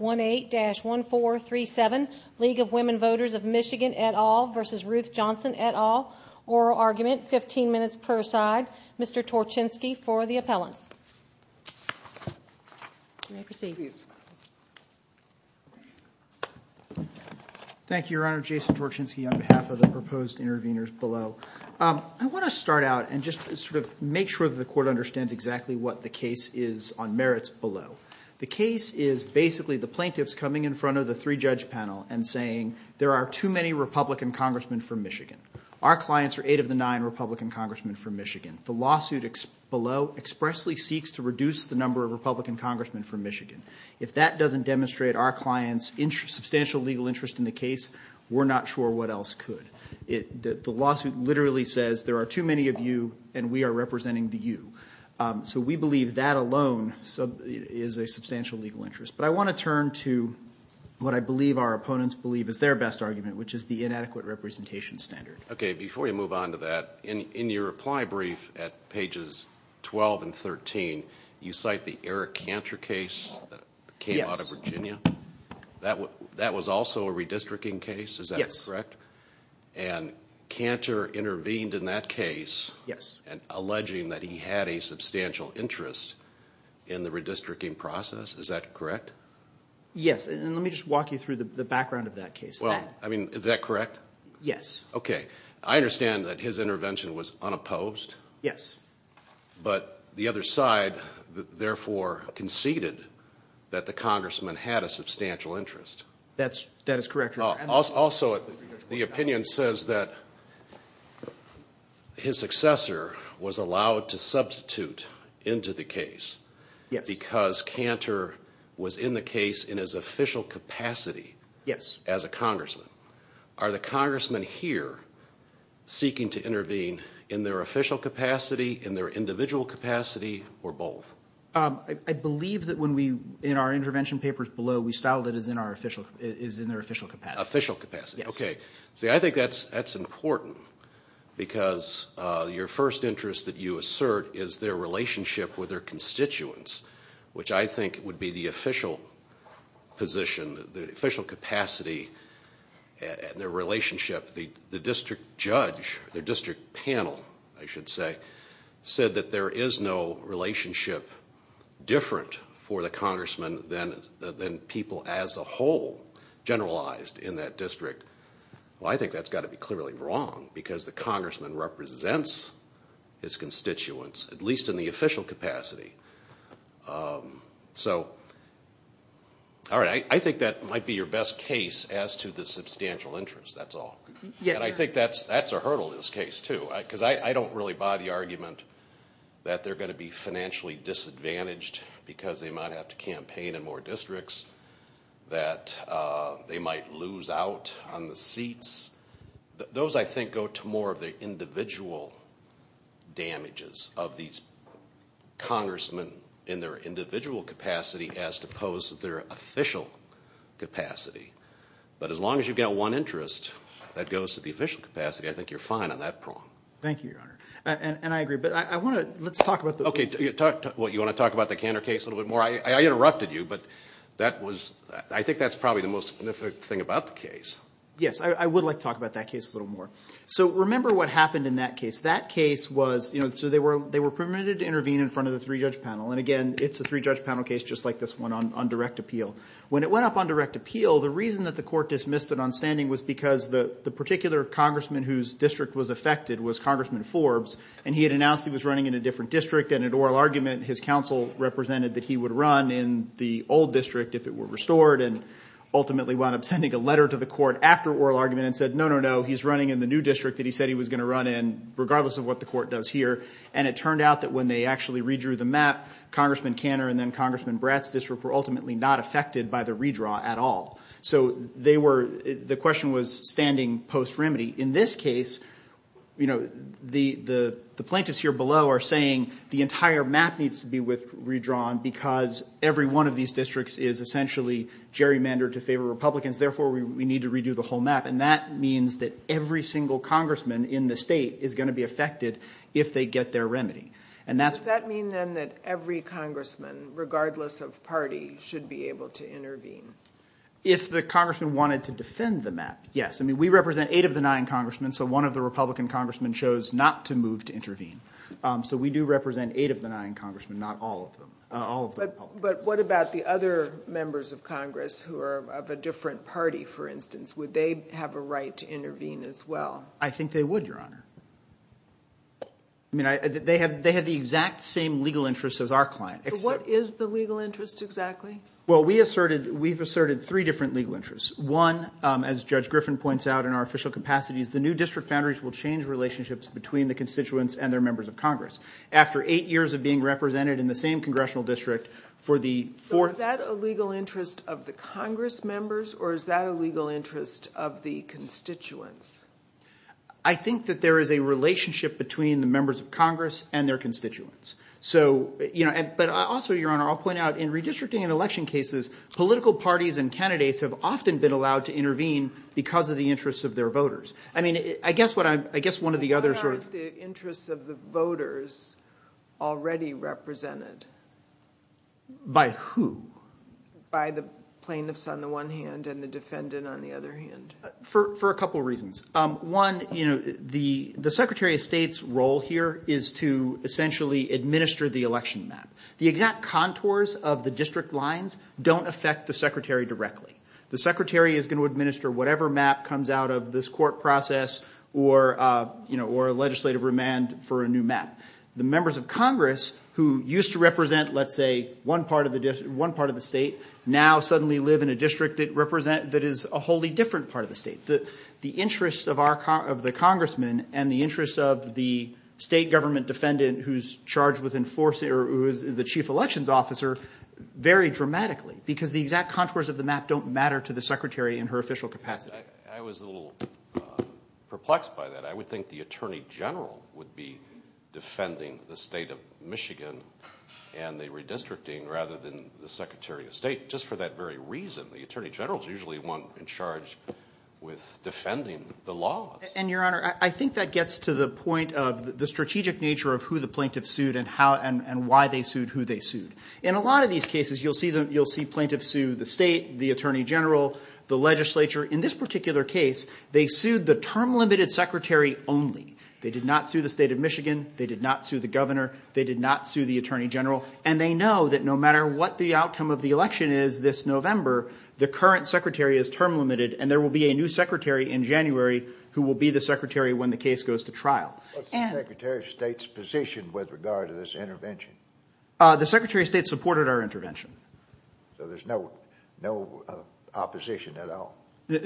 1-8-1437 League of Women Voters of MI v. Ruth Johnson et al. Oral Argument, 15 minutes per side. Mr. Torchinsky for the appellants. You may proceed. Thank you, Your Honor. Jason Torchinsky on behalf of the proposed interveners below. I want to start out and just sort of make sure that the Court understands exactly what the case is on merits below. The case is basically the plaintiffs coming in front of the three-judge panel and saying there are too many Republican congressmen from Michigan. Our clients are eight of the nine Republican congressmen from Michigan. The lawsuit below expressly seeks to reduce the number of Republican congressmen from Michigan. If that doesn't demonstrate our clients' substantial legal interest in the case, we're not sure what else could. The lawsuit literally says there are too many of you and we are representing the you. So we believe that alone is a substantial legal interest. But I want to turn to what I believe our opponents believe is their best argument, which is the inadequate representation standard. OK, before you move on to that, in your reply brief at pages 12 and 13, you cite the Eric Cantor case that came out of Virginia. That was also a redistricting case, is that correct? Yes. And Cantor intervened in that case alleging that he had a substantial interest in the redistricting process, is that correct? Yes, and let me just walk you through the background of that case. Is that correct? Yes. OK, I understand that his intervention was unopposed. Yes. But the other side, therefore, conceded that the congressman had a substantial interest. That is correct. Also, the opinion says that his successor was allowed to substitute into the case because Cantor was in the case in his official capacity as a congressman. Are the congressmen here seeking to intervene in their official capacity, in their individual capacity, or both? I believe that when we, in our intervention papers below, we styled it as in their official capacity. Official capacity. Yes. OK. See, I think that's important because your first interest that you assert is their relationship with their constituents, which I think would be the official position, the official capacity, their relationship. The district judge, the district panel, I should say, said that there is no relationship different for the congressman than people as a whole generalized in that district. Well, I think that's got to be clearly wrong because the congressman represents his constituents, at least in the official capacity. So, all right, I think that might be your best case as to the substantial interest. That's all. And I think that's a hurdle in this case, too. Because I don't really buy the argument that they're going to be financially disadvantaged because they might have to campaign in more districts, that they might lose out on the seats. Those, I think, go to more of the individual damages of these congressmen in their individual capacity as opposed to their official capacity. But as long as you've got one interest that goes to the official capacity, I think you're fine on that prong. Thank you, Your Honor. And I agree. But I want to – let's talk about the – OK. Well, you want to talk about the Cantor case a little bit more? I interrupted you, but that was – I think that's probably the most significant thing about the case. Yes, I would like to talk about that case a little more. So remember what happened in that case. That case was – so they were permitted to intervene in front of the three-judge panel. And, again, it's a three-judge panel case just like this one on direct appeal. When it went up on direct appeal, the reason that the court dismissed it on standing was because the particular congressman whose district was affected was Congressman Forbes. And he had announced he was running in a different district. And in oral argument, his counsel represented that he would run in the old district if it were restored. And ultimately wound up sending a letter to the court after oral argument and said, no, no, no, he's running in the new district that he said he was going to run in, regardless of what the court does here. And it turned out that when they actually redrew the map, Congressman Cantor and then Congressman Bratt's district were ultimately not affected by the redraw at all. So they were – the question was standing post-remedy. In this case, the plaintiffs here below are saying the entire map needs to be redrawn because every one of these districts is essentially gerrymandered to favor Republicans. Therefore, we need to redo the whole map. And that means that every single congressman in the state is going to be affected if they get their remedy. And that's – Does that mean then that every congressman, regardless of party, should be able to intervene? If the congressman wanted to defend the map, yes. I mean we represent eight of the nine congressmen, so one of the Republican congressmen chose not to move to intervene. So we do represent eight of the nine congressmen, not all of them. But what about the other members of Congress who are of a different party, for instance? Would they have a right to intervene as well? I think they would, Your Honor. I mean they have the exact same legal interests as our client. What is the legal interest exactly? Well, we asserted – we've asserted three different legal interests. One, as Judge Griffin points out in our official capacities, the new district boundaries will change relationships between the constituents and their members of Congress. After eight years of being represented in the same congressional district for the – So is that a legal interest of the Congress members or is that a legal interest of the constituents? I think that there is a relationship between the members of Congress and their constituents. So – but also, Your Honor, I'll point out in redistricting and election cases, political parties and candidates have often been allowed to intervene because of the interests of their voters. I mean I guess what I'm – I guess one of the others are – What about the interests of the voters already represented? By who? By the plaintiffs on the one hand and the defendant on the other hand. For a couple reasons. One, the Secretary of State's role here is to essentially administer the election map. The exact contours of the district lines don't affect the Secretary directly. The Secretary is going to administer whatever map comes out of this court process or legislative remand for a new map. The members of Congress who used to represent, let's say, one part of the state, now suddenly live in a district that is a wholly different part of the state. The interests of the congressman and the interests of the state government defendant who is charged with enforcing or who is the chief elections officer vary dramatically because the exact contours of the map don't matter to the Secretary in her official capacity. I was a little perplexed by that. I would think the attorney general would be defending the state of Michigan and the redistricting rather than the Secretary of State just for that very reason. The attorney general is usually the one in charge with defending the laws. Your Honor, I think that gets to the point of the strategic nature of who the plaintiffs sued and why they sued who they sued. In a lot of these cases, you'll see plaintiffs sue the state, the attorney general, the legislature. In this particular case, they sued the term limited secretary only. They did not sue the state of Michigan. They did not sue the governor. They did not sue the attorney general. They know that no matter what the outcome of the election is this November, the current secretary is term limited, and there will be a new secretary in January who will be the secretary when the case goes to trial. What's the Secretary of State's position with regard to this intervention? The Secretary of State supported our intervention. So there's no opposition at all?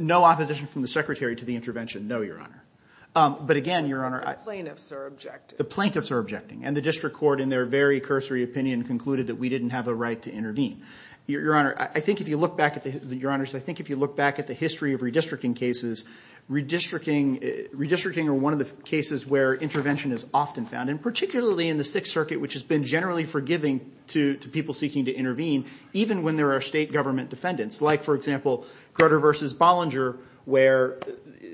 No opposition from the secretary to the intervention, no, Your Honor. But again, Your Honor— The plaintiffs are objecting. The plaintiffs are objecting, and the district court, in their very cursory opinion, concluded that we didn't have a right to intervene. Your Honor, I think if you look back at the history of redistricting cases, redistricting are one of the cases where intervention is often found, and particularly in the Sixth Circuit, which has been generally forgiving to people seeking to intervene, even when there are state government defendants, like, for example, Crutter v. Bollinger, where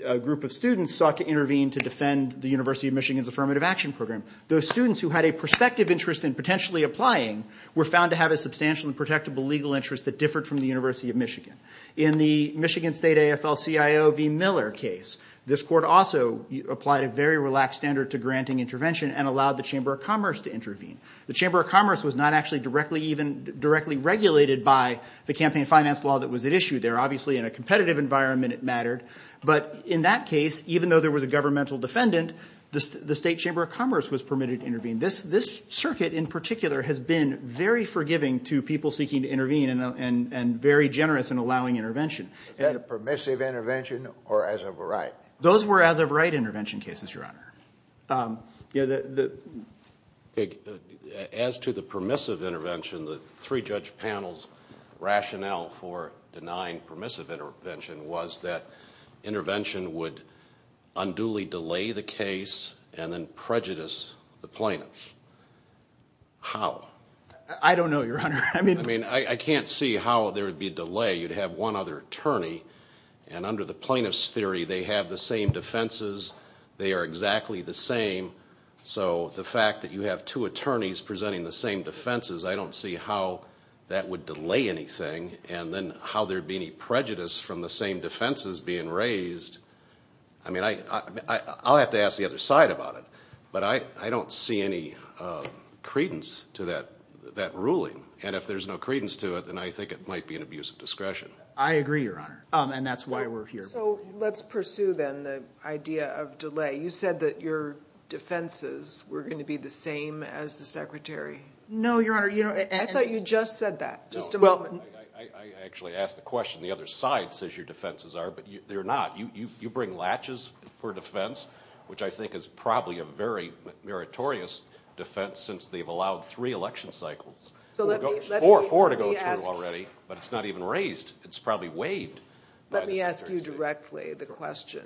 a group of students sought to intervene to defend the University of Michigan's Affirmative Action Program. Those students who had a prospective interest in potentially applying were found to have a substantial and protectable legal interest that differed from the University of Michigan. In the Michigan State AFL-CIO v. Miller case, this court also applied a very relaxed standard to granting intervention and allowed the Chamber of Commerce to intervene. The Chamber of Commerce was not actually directly regulated by the campaign finance law that was at issue there. Obviously, in a competitive environment, it mattered. But in that case, even though there was a governmental defendant, the State Chamber of Commerce was permitted to intervene. This circuit, in particular, has been very forgiving to people seeking to intervene and very generous in allowing intervention. Was that a permissive intervention or as of a right? Those were as-of-right intervention cases, Your Honor. As to the permissive intervention, the three-judge panel's rationale for denying permissive intervention was that intervention would unduly delay the case and then prejudice the plaintiffs. How? I don't know, Your Honor. I mean, I can't see how there would be a delay. You'd have one other attorney, and under the plaintiff's theory, they have the same defenses. They are exactly the same. So the fact that you have two attorneys presenting the same defenses, I don't see how that would delay anything and then how there'd be any prejudice from the same defenses being raised. I mean, I'll have to ask the other side about it, but I don't see any credence to that ruling. And if there's no credence to it, then I think it might be an abuse of discretion. I agree, Your Honor, and that's why we're here. So let's pursue, then, the idea of delay. You said that your defenses were going to be the same as the Secretary. No, Your Honor. I thought you just said that, just a moment. I actually asked the question. The other side says your defenses are, but they're not. You bring latches for defense, which I think is probably a very meritorious defense since they've allowed three election cycles. Four to go through already, but it's not even raised. It's probably waived. Let me ask you directly the question.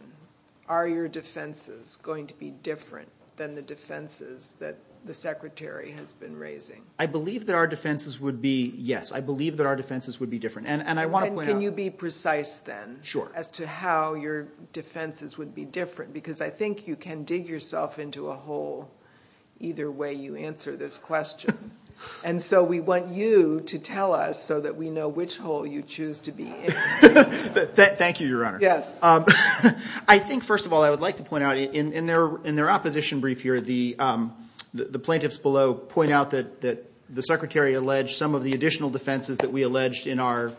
Are your defenses going to be different than the defenses that the Secretary has been raising? I believe that our defenses would be, yes. I believe that our defenses would be different. Can you be precise, then, as to how your defenses would be different? Because I think you can dig yourself into a hole either way you answer this question. And so we want you to tell us so that we know which hole you choose to be in. Thank you, Your Honor. I think, first of all, I would like to point out in their opposition brief here, the plaintiffs below point out that the Secretary alleged some of the additional defenses that we alleged in our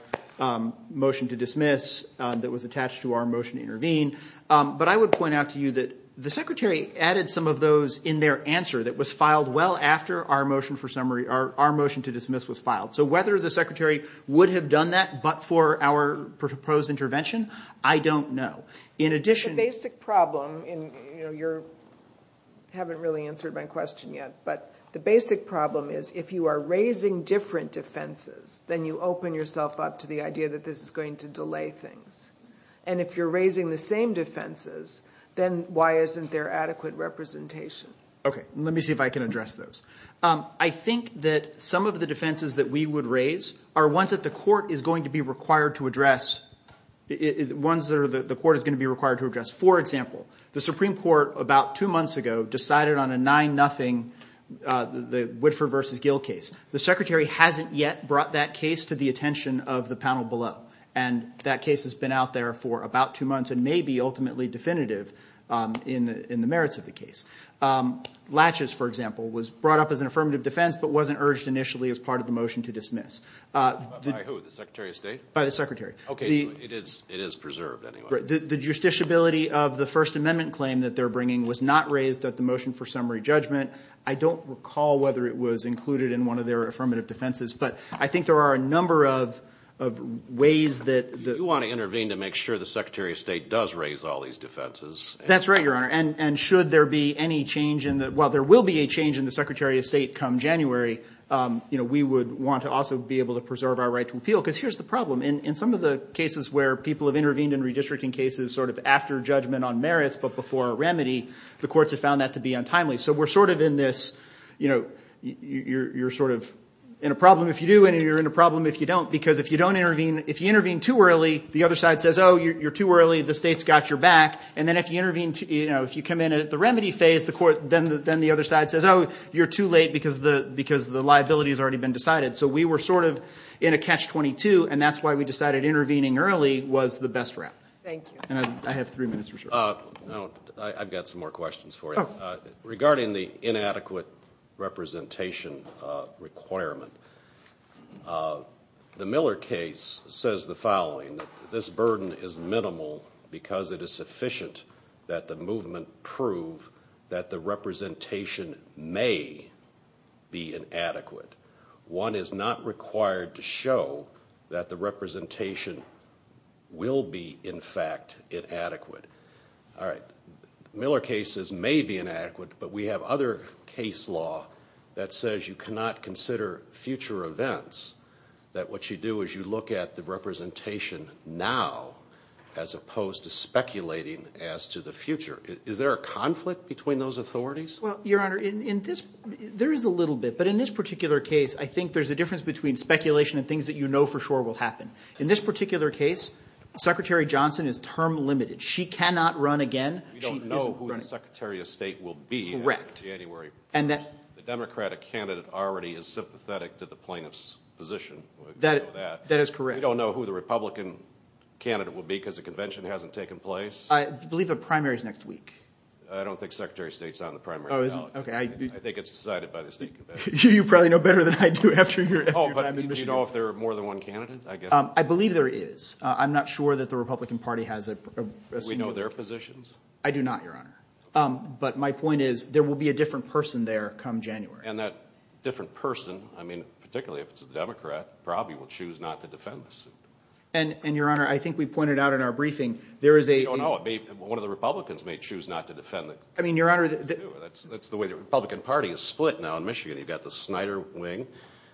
motion to dismiss that was attached to our motion to intervene. But I would point out to you that the Secretary added some of those in their answer So whether the Secretary would have done that but for our proposed intervention, I don't know. The basic problem, and you haven't really answered my question yet, but the basic problem is if you are raising different defenses, then you open yourself up to the idea that this is going to delay things. And if you're raising the same defenses, then why isn't there adequate representation? Okay, let me see if I can address those. I think that some of the defenses that we would raise are ones that the court is going to be required to address, ones that the court is going to be required to address. For example, the Supreme Court about two months ago decided on a 9-0, the Whitford v. Gill case. The Secretary hasn't yet brought that case to the attention of the panel below, and that case has been out there for about two months and may be ultimately definitive in the merits of the case. Latches, for example, was brought up as an affirmative defense but wasn't urged initially as part of the motion to dismiss. By who, the Secretary of State? By the Secretary. Okay, so it is preserved anyway. The justiciability of the First Amendment claim that they're bringing was not raised at the motion for summary judgment. I don't recall whether it was included in one of their affirmative defenses, but I think there are a number of ways that the You want to intervene to make sure the Secretary of State does raise all these defenses. That's right, Your Honor, and should there be any change in the Well, there will be a change in the Secretary of State come January. We would want to also be able to preserve our right to appeal because here's the problem. In some of the cases where people have intervened in redistricting cases sort of after judgment on merits but before a remedy, the courts have found that to be untimely. So we're sort of in this, you know, you're sort of in a problem if you do and you're in a problem if you don't because if you don't intervene, if you intervene too early, the other side says, Oh, you're too early. The state's got your back. And then if you intervene, you know, if you come in at the remedy phase, then the other side says, Oh, you're too late because the liability has already been decided. So we were sort of in a catch-22, and that's why we decided intervening early was the best route. Thank you. And I have three minutes for sure. I've got some more questions for you. Regarding the inadequate representation requirement, the Miller case says the following. This burden is minimal because it is sufficient that the movement prove that the representation may be inadequate. One is not required to show that the representation will be, in fact, inadequate. All right. Miller cases may be inadequate, but we have other case law that says you cannot consider future events, that what you do is you look at the representation now as opposed to speculating as to the future. Is there a conflict between those authorities? Well, Your Honor, there is a little bit, but in this particular case, I think there's a difference between speculation and things that you know for sure will happen. In this particular case, Secretary Johnson is term-limited. She cannot run again. We don't know who the Secretary of State will be after January 1st. The Democratic candidate already is sympathetic to the plaintiff's position. We know that. That is correct. We don't know who the Republican candidate will be because the convention hasn't taken place. I believe the primary is next week. I don't think Secretary of State is on the primary ballot. I think it's decided by the state convention. You probably know better than I do after your time in Michigan. Do you know if there are more than one candidate? I believe there is. I'm not sure that the Republican Party has a senior candidate. Do we know their positions? I do not, Your Honor. But my point is there will be a different person there come January. And that different person, I mean, particularly if it's a Democrat, probably will choose not to defend the suit. And, Your Honor, I think we pointed out in our briefing there is a— We don't know. One of the Republicans may choose not to defend the— I mean, Your Honor— That's the way the Republican Party is split now in Michigan. You've got the Snyder wing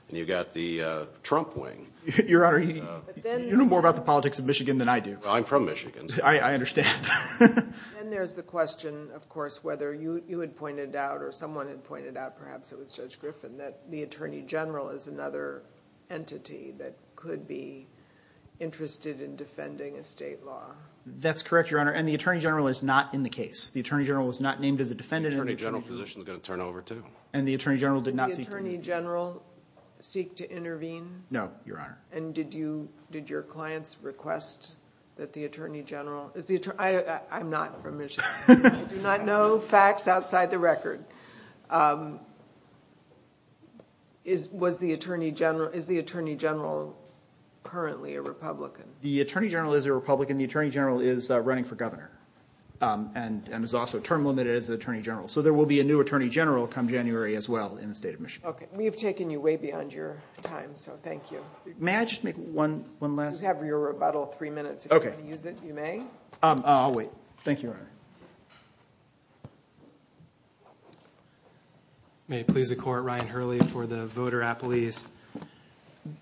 and you've got the Trump wing. Your Honor, you know more about the politics of Michigan than I do. I'm from Michigan. I understand. And there's the question, of course, whether you had pointed out or someone had pointed out, perhaps it was Judge Griffin, that the attorney general is another entity that could be interested in defending a state law. That's correct, Your Honor, and the attorney general is not in the case. The attorney general was not named as a defendant. The attorney general position is going to turn over too. And the attorney general did not seek to— Did the attorney general seek to intervene? No, Your Honor. And did your clients request that the attorney general— I'm not from Michigan. I do not know facts outside the record. Is the attorney general currently a Republican? The attorney general is a Republican. The attorney general is running for governor and is also term-limited as attorney general. So there will be a new attorney general come January as well in the state of Michigan. Okay. We have taken you way beyond your time, so thank you. May I just make one last— You have your rebuttal, three minutes. Okay. If you want to use it, you may. I'll wait. Thank you, Your Honor. May it please the Court, Ryan Hurley for the Voter Appalese.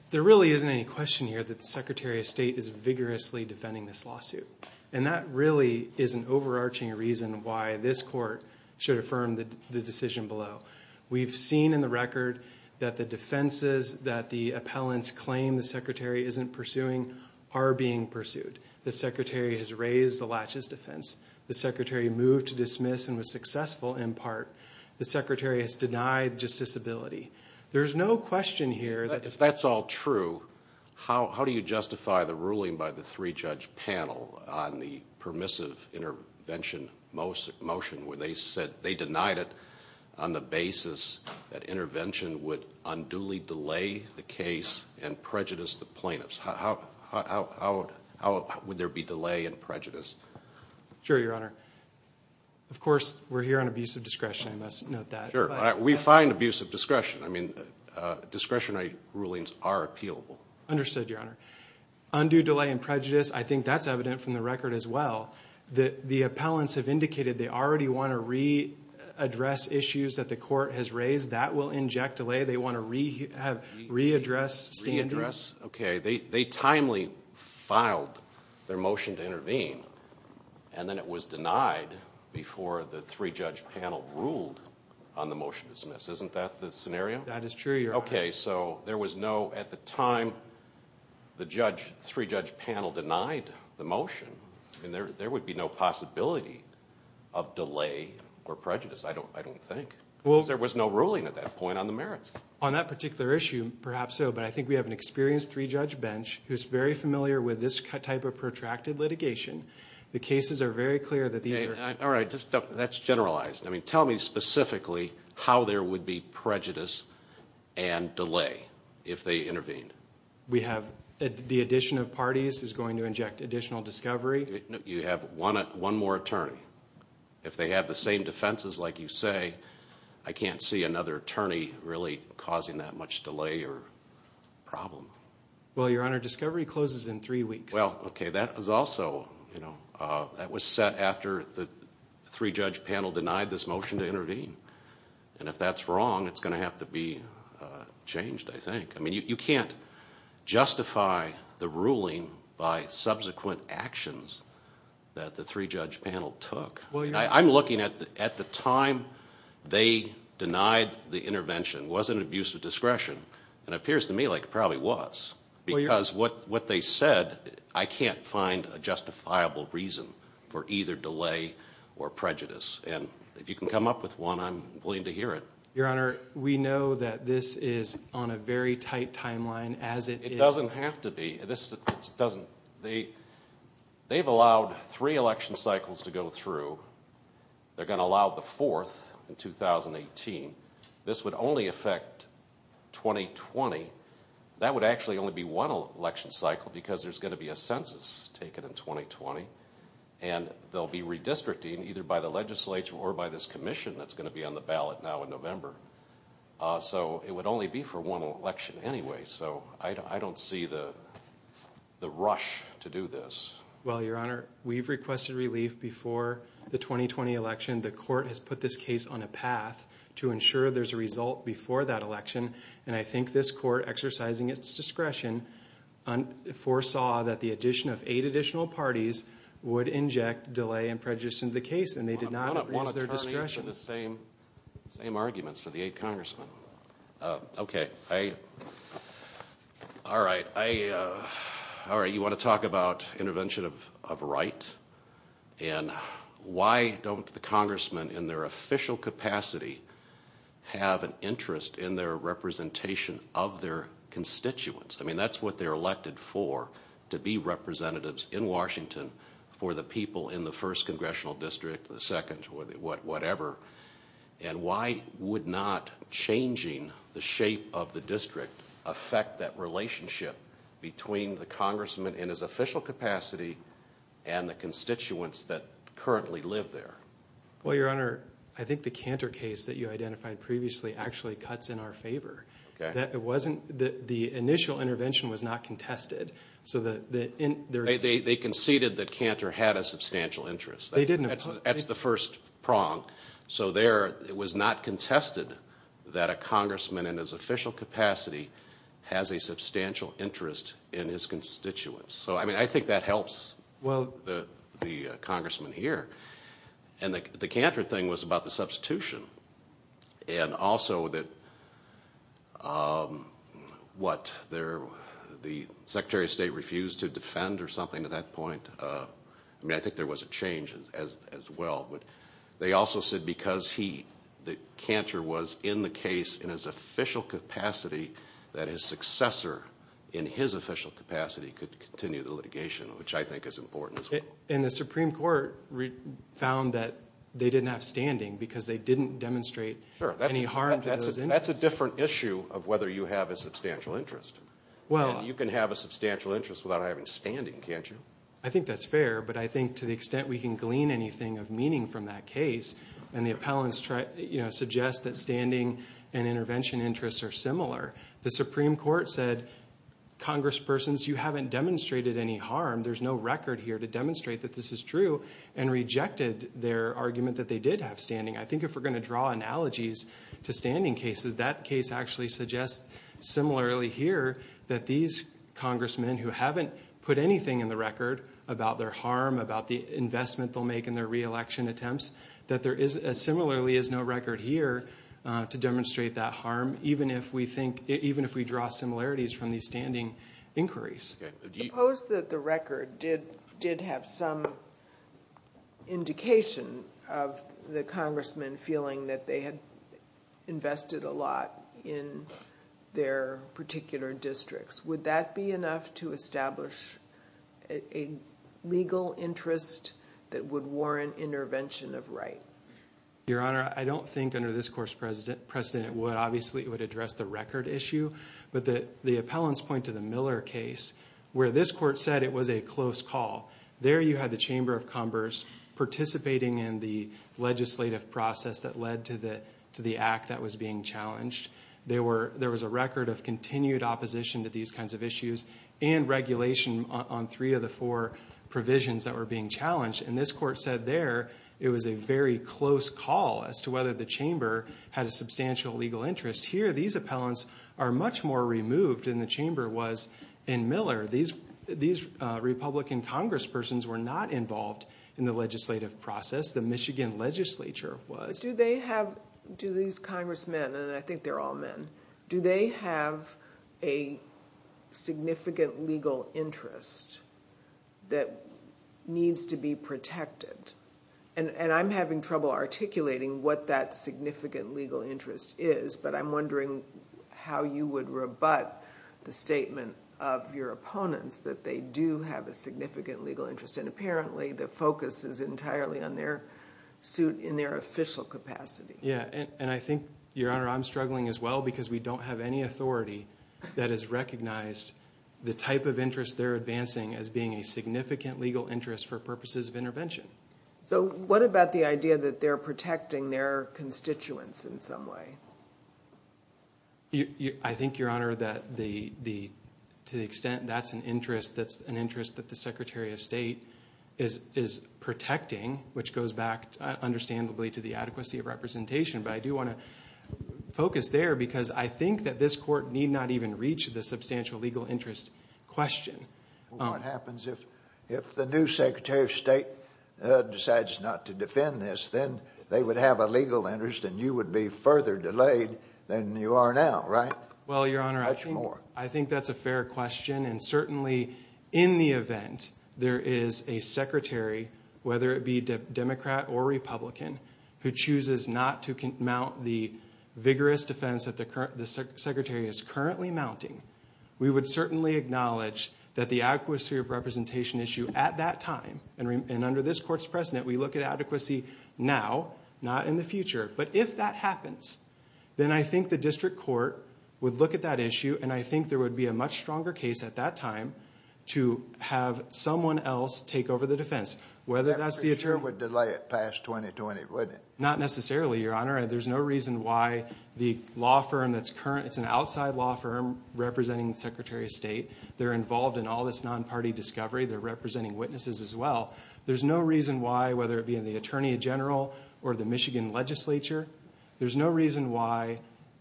There really isn't any question here that the Secretary of State is vigorously defending this lawsuit. And that really is an overarching reason why this court should affirm the decision below. We've seen in the record that the defenses that the appellants claim the Secretary isn't pursuing are being pursued. The Secretary has raised the laches defense. The Secretary moved to dismiss and was successful in part. The Secretary has denied justiciability. There's no question here that— If that's all true, how do you justify the ruling by the three-judge panel on the permissive intervention motion where they said they denied it on the basis that intervention would unduly delay the case and prejudice the plaintiffs? How would there be delay and prejudice? Sure, Your Honor. Of course, we're here on abuse of discretion. I must note that. Sure. We find abuse of discretion. I mean, discretionary rulings are appealable. Understood, Your Honor. Undue delay and prejudice, I think that's evident from the record as well. The appellants have indicated they already want to readdress issues that the court has raised. That will inject delay. They want to readdress standing. Okay. They timely filed their motion to intervene, and then it was denied before the three-judge panel ruled on the motion to dismiss. Isn't that the scenario? That is true, Your Honor. Okay, so there was no—at the time, the three-judge panel denied the motion, and there would be no possibility of delay or prejudice, I don't think. There was no ruling at that point on the merits. On that particular issue, perhaps so, but I think we have an experienced three-judge bench who is very familiar with this type of protracted litigation. The cases are very clear that these are— All right, that's generalized. I mean, tell me specifically how there would be prejudice and delay if they intervened. The addition of parties is going to inject additional discovery. You have one more attorney. If they have the same defenses, like you say, I can't see another attorney really causing that much delay or problem. Well, Your Honor, discovery closes in three weeks. Well, okay, that was also—that was set after the three-judge panel denied this motion to intervene, and if that's wrong, it's going to have to be changed, I think. I mean, you can't justify the ruling by subsequent actions that the three-judge panel took. I'm looking at the time they denied the intervention. Was it an abuse of discretion? It appears to me like it probably was because what they said, I can't find a justifiable reason for either delay or prejudice. And if you can come up with one, I'm willing to hear it. Your Honor, we know that this is on a very tight timeline as it is— It doesn't have to be. They've allowed three election cycles to go through. They're going to allow the fourth in 2018. This would only affect 2020. That would actually only be one election cycle because there's going to be a census taken in 2020, and they'll be redistricting either by the legislature or by this commission that's going to be on the ballot now in November. So it would only be for one election anyway, so I don't see the rush to do this. Well, Your Honor, we've requested relief before the 2020 election. The court has put this case on a path to ensure there's a result before that election, and I think this court, exercising its discretion, foresaw that the addition of eight additional parties would inject delay and prejudice into the case, and they did not use their discretion. I don't want to turn to the same arguments for the eight congressmen. All right, you want to talk about intervention of right, and why don't the congressmen in their official capacity have an interest in their representation of their constituents? I mean, that's what they're elected for, to be representatives in Washington for the people in the first congressional district, the second, whatever. And why would not changing the shape of the district affect that relationship between the congressman in his official capacity and the constituents that currently live there? Well, Your Honor, I think the Cantor case that you identified previously actually cuts in our favor. The initial intervention was not contested. They conceded that Cantor had a substantial interest. That's the first prong. So there it was not contested that a congressman in his official capacity has a substantial interest in his constituents. So, I mean, I think that helps the congressman here. And the Cantor thing was about the substitution, and also that the Secretary of State refused to defend or something at that point. I mean, I think there was a change as well. But they also said because Cantor was in the case in his official capacity, that his successor in his official capacity could continue the litigation, which I think is important as well. And the Supreme Court found that they didn't have standing because they didn't demonstrate any harm to those interests. That's a different issue of whether you have a substantial interest. You can have a substantial interest without having standing, can't you? I think that's fair, but I think to the extent we can glean anything of meaning from that case, and the appellants suggest that standing and intervention interests are similar, the Supreme Court said, Congresspersons, you haven't demonstrated any harm. There's no record here to demonstrate that this is true, and rejected their argument that they did have standing. I think if we're going to draw analogies to standing cases, that case actually suggests similarly here that these congressmen who haven't put anything in the record about their harm, about the investment they'll make in their reelection attempts, that there similarly is no record here to demonstrate that harm, even if we draw similarities from these standing inquiries. Suppose that the record did have some indication of the congressmen feeling that they had invested a lot in their particular districts. Would that be enough to establish a legal interest that would warrant intervention of right? Your Honor, I don't think under this Court's precedent it would. address the record issue, but the appellants point to the Miller case where this Court said it was a close call. There you had the Chamber of Commerce participating in the legislative process that led to the act that was being challenged. There was a record of continued opposition to these kinds of issues, and regulation on three of the four provisions that were being challenged, and this Court said there it was a very close call as to whether the Chamber had a substantial legal interest. Here these appellants are much more removed than the Chamber was in Miller. These Republican congresspersons were not involved in the legislative process. The Michigan legislature was. Do these congressmen, and I think they're all men, do they have a significant legal interest that needs to be protected? I'm having trouble articulating what that significant legal interest is, but I'm wondering how you would rebut the statement of your opponents that they do have a significant legal interest, and apparently the focus is entirely on their suit in their official capacity. Yeah, and I think, Your Honor, I'm struggling as well, because we don't have any authority that has recognized the type of interest they're advancing as being a significant legal interest for purposes of intervention. So what about the idea that they're protecting their constituents in some way? I think, Your Honor, that to the extent that's an interest that the Secretary of State is protecting, which goes back, understandably, to the adequacy of representation, but I do want to focus there because I think that this Court need not even reach the substantial legal interest question. What happens if the new Secretary of State decides not to defend this? Then they would have a legal interest, and you would be further delayed than you are now, right? Well, Your Honor, I think that's a fair question, and certainly in the event there is a Secretary, whether it be Democrat or Republican, who chooses not to mount the vigorous defense that the Secretary is currently mounting, we would certainly acknowledge that the adequacy of representation issue at that time, and under this Court's precedent, we look at adequacy now, not in the future. But if that happens, then I think the district court would look at that issue, and I think there would be a much stronger case at that time to have someone else take over the defense. I'm pretty sure it would delay it past 2020, wouldn't it? Not necessarily, Your Honor. There's no reason why the law firm that's current, it's an outside law firm representing the Secretary of State. They're involved in all this non-party discovery. They're representing witnesses as well. There's no reason why, whether it be in the Attorney General or the Michigan Legislature, there's no reason why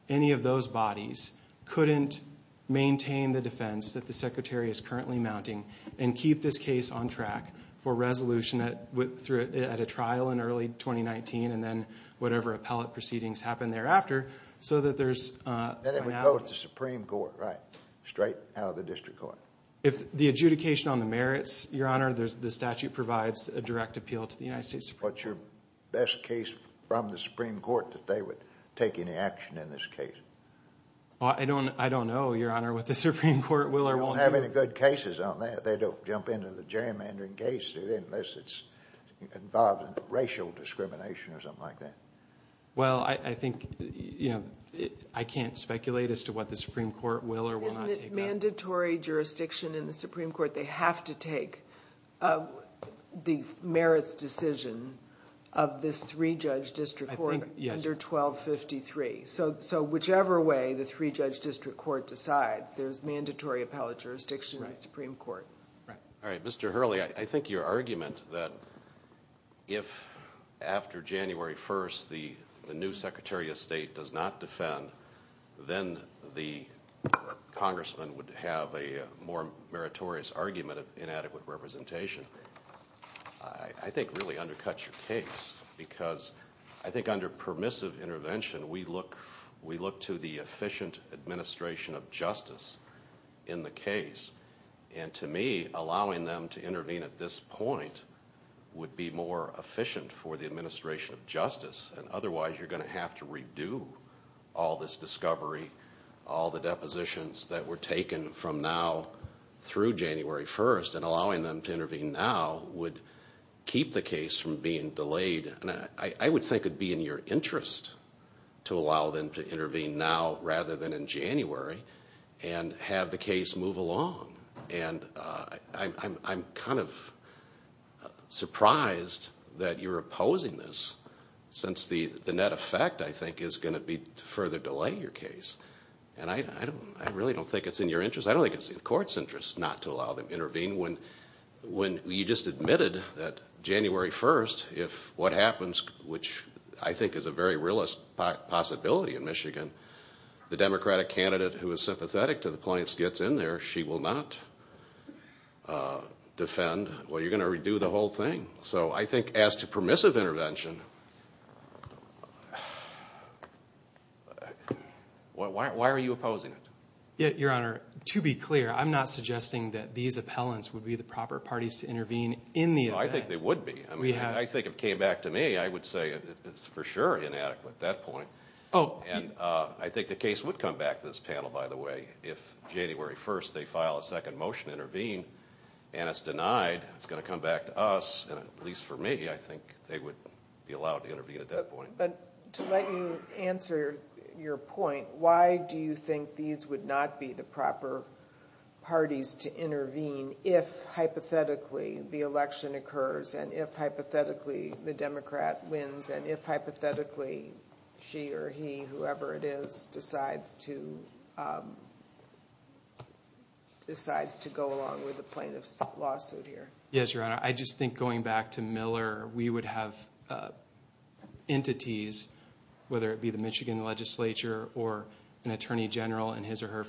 any of those bodies couldn't maintain the defense that the Secretary is currently mounting and keep this case on track for resolution at a trial in early 2019 and then whatever appellate proceedings happen thereafter so that there's finality. Then it would go to the Supreme Court, right? Straight out of the district court. If the adjudication on the merits, Your Honor, the statute provides a direct appeal to the United States Supreme Court. What's your best case from the Supreme Court that they would take any action in this case? I don't know, Your Honor, what the Supreme Court will or won't do. There aren't many good cases on that. They don't jump into the gerrymandering case unless it's involved in racial discrimination or something like that. Well, I think, you know, I can't speculate as to what the Supreme Court will or will not take on. Isn't it mandatory jurisdiction in the Supreme Court? They have to take the merits decision of this three-judge district court under 1253. So whichever way the three-judge district court decides, there's mandatory appellate jurisdiction in the Supreme Court. All right. Mr. Hurley, I think your argument that if after January 1st the new Secretary of State does not defend, then the congressman would have a more meritorious argument of inadequate representation, I think really undercuts your case because I think under permissive intervention, we look to the efficient administration of justice in the case. And to me, allowing them to intervene at this point would be more efficient for the administration of justice, and otherwise you're going to have to redo all this discovery, all the depositions that were taken from now through January 1st, and allowing them to intervene now would keep the case from being delayed. I would think it would be in your interest to allow them to intervene now rather than in January and have the case move along, and I'm kind of surprised that you're opposing this since the net effect, I think, is going to be to further delay your case, and I really don't think it's in your interest. I don't think it's in the court's interest not to allow them to intervene. When you just admitted that January 1st, if what happens, which I think is a very realist possibility in Michigan, the Democratic candidate who is sympathetic to the plaintiffs gets in there, she will not defend, well, you're going to redo the whole thing. So I think as to permissive intervention, why are you opposing it? Your Honor, to be clear, I'm not suggesting that these appellants would be the proper parties to intervene in the event. I think they would be. I think if it came back to me, I would say it's for sure inadequate at that point, and I think the case would come back to this panel, by the way, if January 1st they file a second motion to intervene and it's denied, it's going to come back to us, and at least for me, I think they would be allowed to intervene at that point. But to let you answer your point, why do you think these would not be the proper parties to intervene if hypothetically the election occurs and if hypothetically the Democrat wins and if hypothetically she or he, whoever it is, decides to go along with the plaintiff's lawsuit here? Yes, Your Honor. I just think going back to Miller, we would have entities, whether it be the Michigan Legislature or an Attorney General in his or her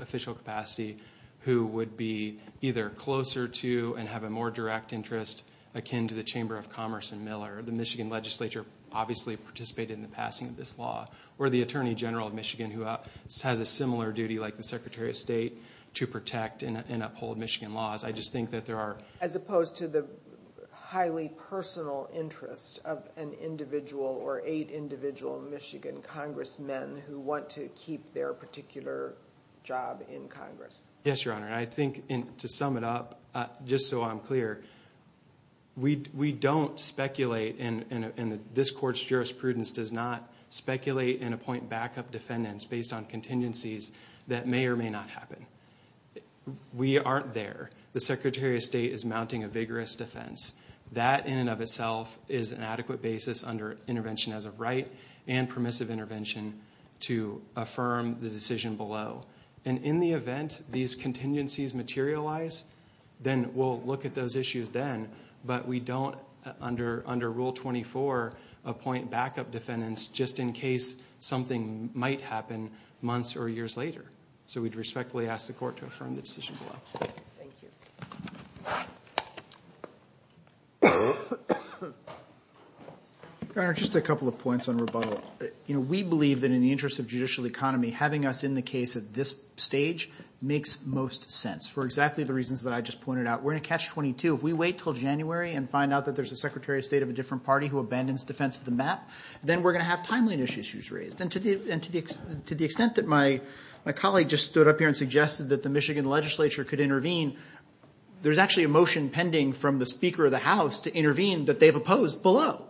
official capacity who would be either closer to and have a more direct interest akin to the Chamber of Commerce in Miller. The Michigan Legislature obviously participated in the passing of this law, or the Attorney General of Michigan who has a similar duty, like the Secretary of State, to protect and uphold Michigan laws. As opposed to the highly personal interest of an individual or eight individual Michigan congressmen who want to keep their particular job in Congress. Yes, Your Honor. I think to sum it up, just so I'm clear, we don't speculate, and this Court's jurisprudence does not speculate and appoint backup defendants based on contingencies that may or may not happen. We aren't there. The Secretary of State is mounting a vigorous defense. That in and of itself is an adequate basis under intervention as a right and permissive intervention to affirm the decision below. In the event these contingencies materialize, then we'll look at those issues then, but we don't, under Rule 24, appoint backup defendants just in case something might happen months or years later. So we'd respectfully ask the Court to affirm the decision below. Thank you. Your Honor, just a couple of points on rebuttal. We believe that in the interest of judicial economy, having us in the case at this stage makes most sense for exactly the reasons that I just pointed out. We're in a catch-22. If we wait until January and find out that there's a Secretary of State of a different party who abandons defense of the map, then we're going to have timely issues raised. And to the extent that my colleague just stood up here and suggested that the Michigan legislature could intervene, there's actually a motion pending from the Speaker of the House to intervene that they've opposed below.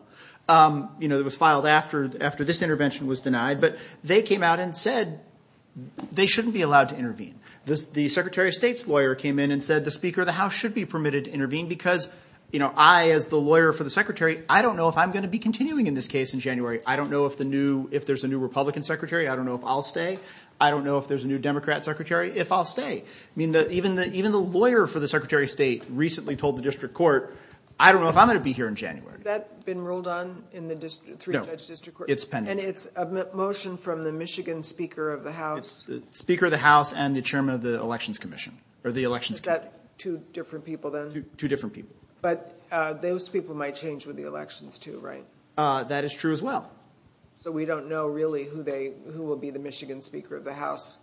It was filed after this intervention was denied, but they came out and said they shouldn't be allowed to intervene. The Secretary of State's lawyer came in and said the Speaker of the House should be permitted to intervene because I, as the lawyer for the Secretary, I don't know if I'm going to be continuing in this case in January. I don't know if there's a new Republican Secretary. I don't know if I'll stay. I don't know if there's a new Democrat Secretary, if I'll stay. Even the lawyer for the Secretary of State recently told the district court, I don't know if I'm going to be here in January. Has that been ruled on in the three-judge district court? No, it's pending. And it's a motion from the Michigan Speaker of the House? It's the Speaker of the House and the Chairman of the Elections Commission or the Elections Committee. Is that two different people then? Two different people. But those people might change with the elections too, right? That is true as well. So we don't know really who will be the Michigan Speaker of the House?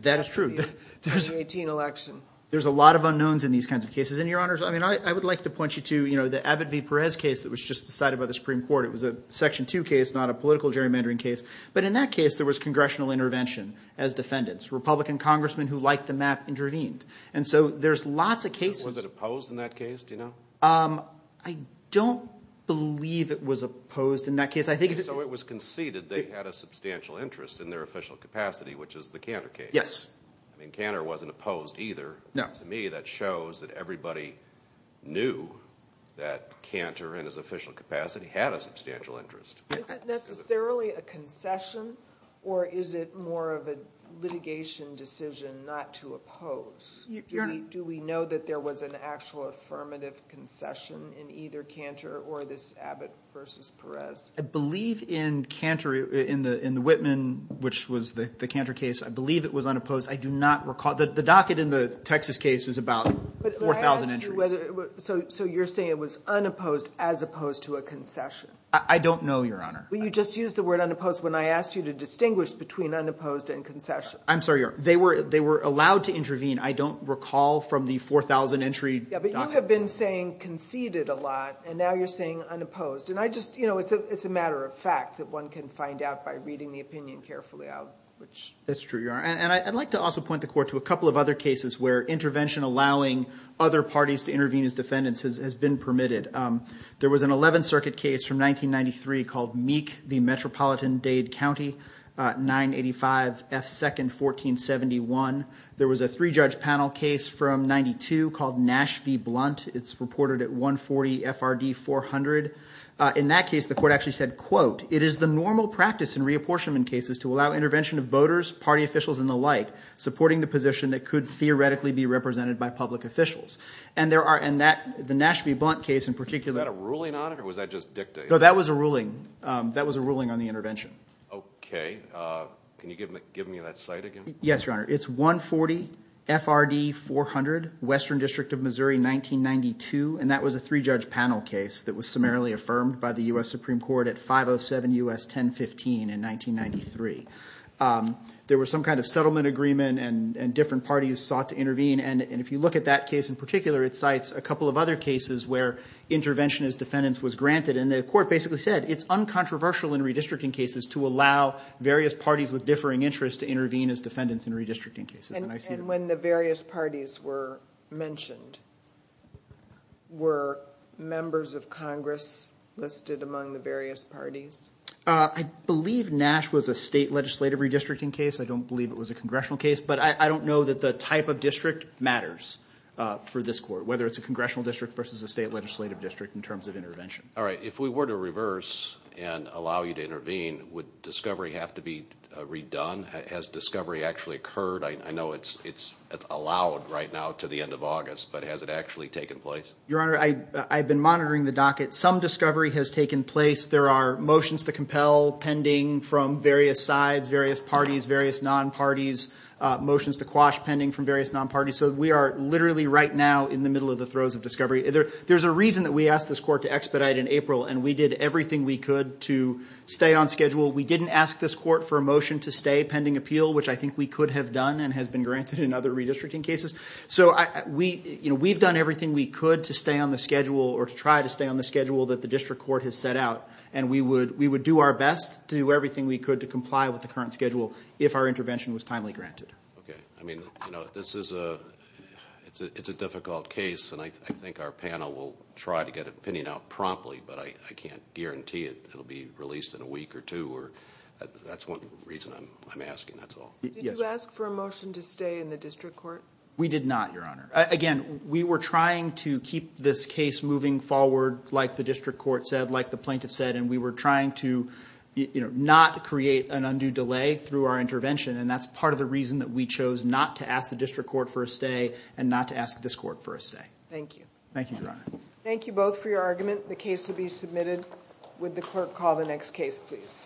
That is true. In the 2018 election. There's a lot of unknowns in these kinds of cases. And, Your Honors, I would like to point you to the Abbott v. Perez case that was just decided by the Supreme Court. It was a Section 2 case, not a political gerrymandering case. But in that case, there was congressional intervention as defendants. Republican congressmen who liked the map intervened. And so there's lots of cases. Was it opposed in that case? Do you know? I don't believe it was opposed in that case. So it was conceded they had a substantial interest in their official capacity, which is the Cantor case? Yes. I mean, Cantor wasn't opposed either. To me, that shows that everybody knew that Cantor, in his official capacity, had a substantial interest. Is it necessarily a concession or is it more of a litigation decision not to oppose? Do we know that there was an actual affirmative concession in either Cantor or this Abbott v. Perez? I believe in the Whitman, which was the Cantor case, I believe it was unopposed. I do not recall. The docket in the Texas case is about 4,000 entries. So you're saying it was unopposed as opposed to a concession? I don't know, Your Honor. You just used the word unopposed when I asked you to distinguish between unopposed and concession. I'm sorry, Your Honor. They were allowed to intervene. I don't recall from the 4,000-entry docket. Yes, but you have been saying conceded a lot, and now you're saying unopposed. It's a matter of fact that one can find out by reading the opinion carefully out. That's true, Your Honor. I'd like to also point the Court to a couple of other cases where intervention allowing other parties to intervene as defendants has been permitted. There was an Eleventh Circuit case from 1993 called Meek v. Metropolitan Dade County, 985 F. 2nd, 1471. There was a three-judge panel case from 1992 called Nash v. Blunt. It's reported at 140 FRD 400. In that case, the Court actually said, quote, it is the normal practice in reapportionment cases to allow intervention of voters, party officials, and the like, supporting the position that could theoretically be represented by public officials. And the Nash v. Blunt case in particular... Was that a ruling on it, or was that just dictated? No, that was a ruling. That was a ruling on the intervention. Okay. Can you give me that cite again? Yes, Your Honor. It's 140 FRD 400, Western District of Missouri, 1992. And that was a three-judge panel case that was summarily affirmed by the U.S. Supreme Court at 507 U.S. 1015 in 1993. There was some kind of settlement agreement, and different parties sought to intervene. And if you look at that case in particular, it cites a couple of other cases where intervention as defendants was granted. And the Court basically said it's uncontroversial in redistricting cases to allow various parties with differing interests to intervene as defendants in redistricting cases. And when the various parties were mentioned, were members of Congress listed among the various parties? I believe Nash was a state legislative redistricting case. I don't believe it was a congressional case. But I don't know that the type of district matters for this Court, whether it's a congressional district versus a state legislative district in terms of intervention. All right. If we were to reverse and allow you to intervene, would discovery have to be redone? Has discovery actually occurred? I know it's allowed right now to the end of August, but has it actually taken place? Your Honor, I've been monitoring the docket. Some discovery has taken place. There are motions to compel pending from various sides, various parties, various non-parties, motions to quash pending from various non-parties. So we are literally right now in the middle of the throes of discovery. There's a reason that we asked this Court to expedite in April, and we did everything we could to stay on schedule. We didn't ask this Court for a motion to stay pending appeal, which I think we could have done and has been granted in other redistricting cases. So we've done everything we could to stay on the schedule or to try to stay on the schedule that the district court has set out, and we would do our best to do everything we could to comply with the current schedule if our intervention was timely granted. Okay. I mean, this is a difficult case, and I think our panel will try to get an opinion out promptly, but I can't guarantee it will be released in a week or two. That's one reason I'm asking, that's all. Did you ask for a motion to stay in the district court? We did not, Your Honor. Again, we were trying to keep this case moving forward like the district court said, like the plaintiff said, and we were trying to not create an undue delay through our intervention, and that's part of the reason that we chose not to ask the district court for a stay and not to ask this Court for a stay. Thank you. Thank you, Your Honor. Thank you both for your argument. The case will be submitted. Would the clerk call the next case, please?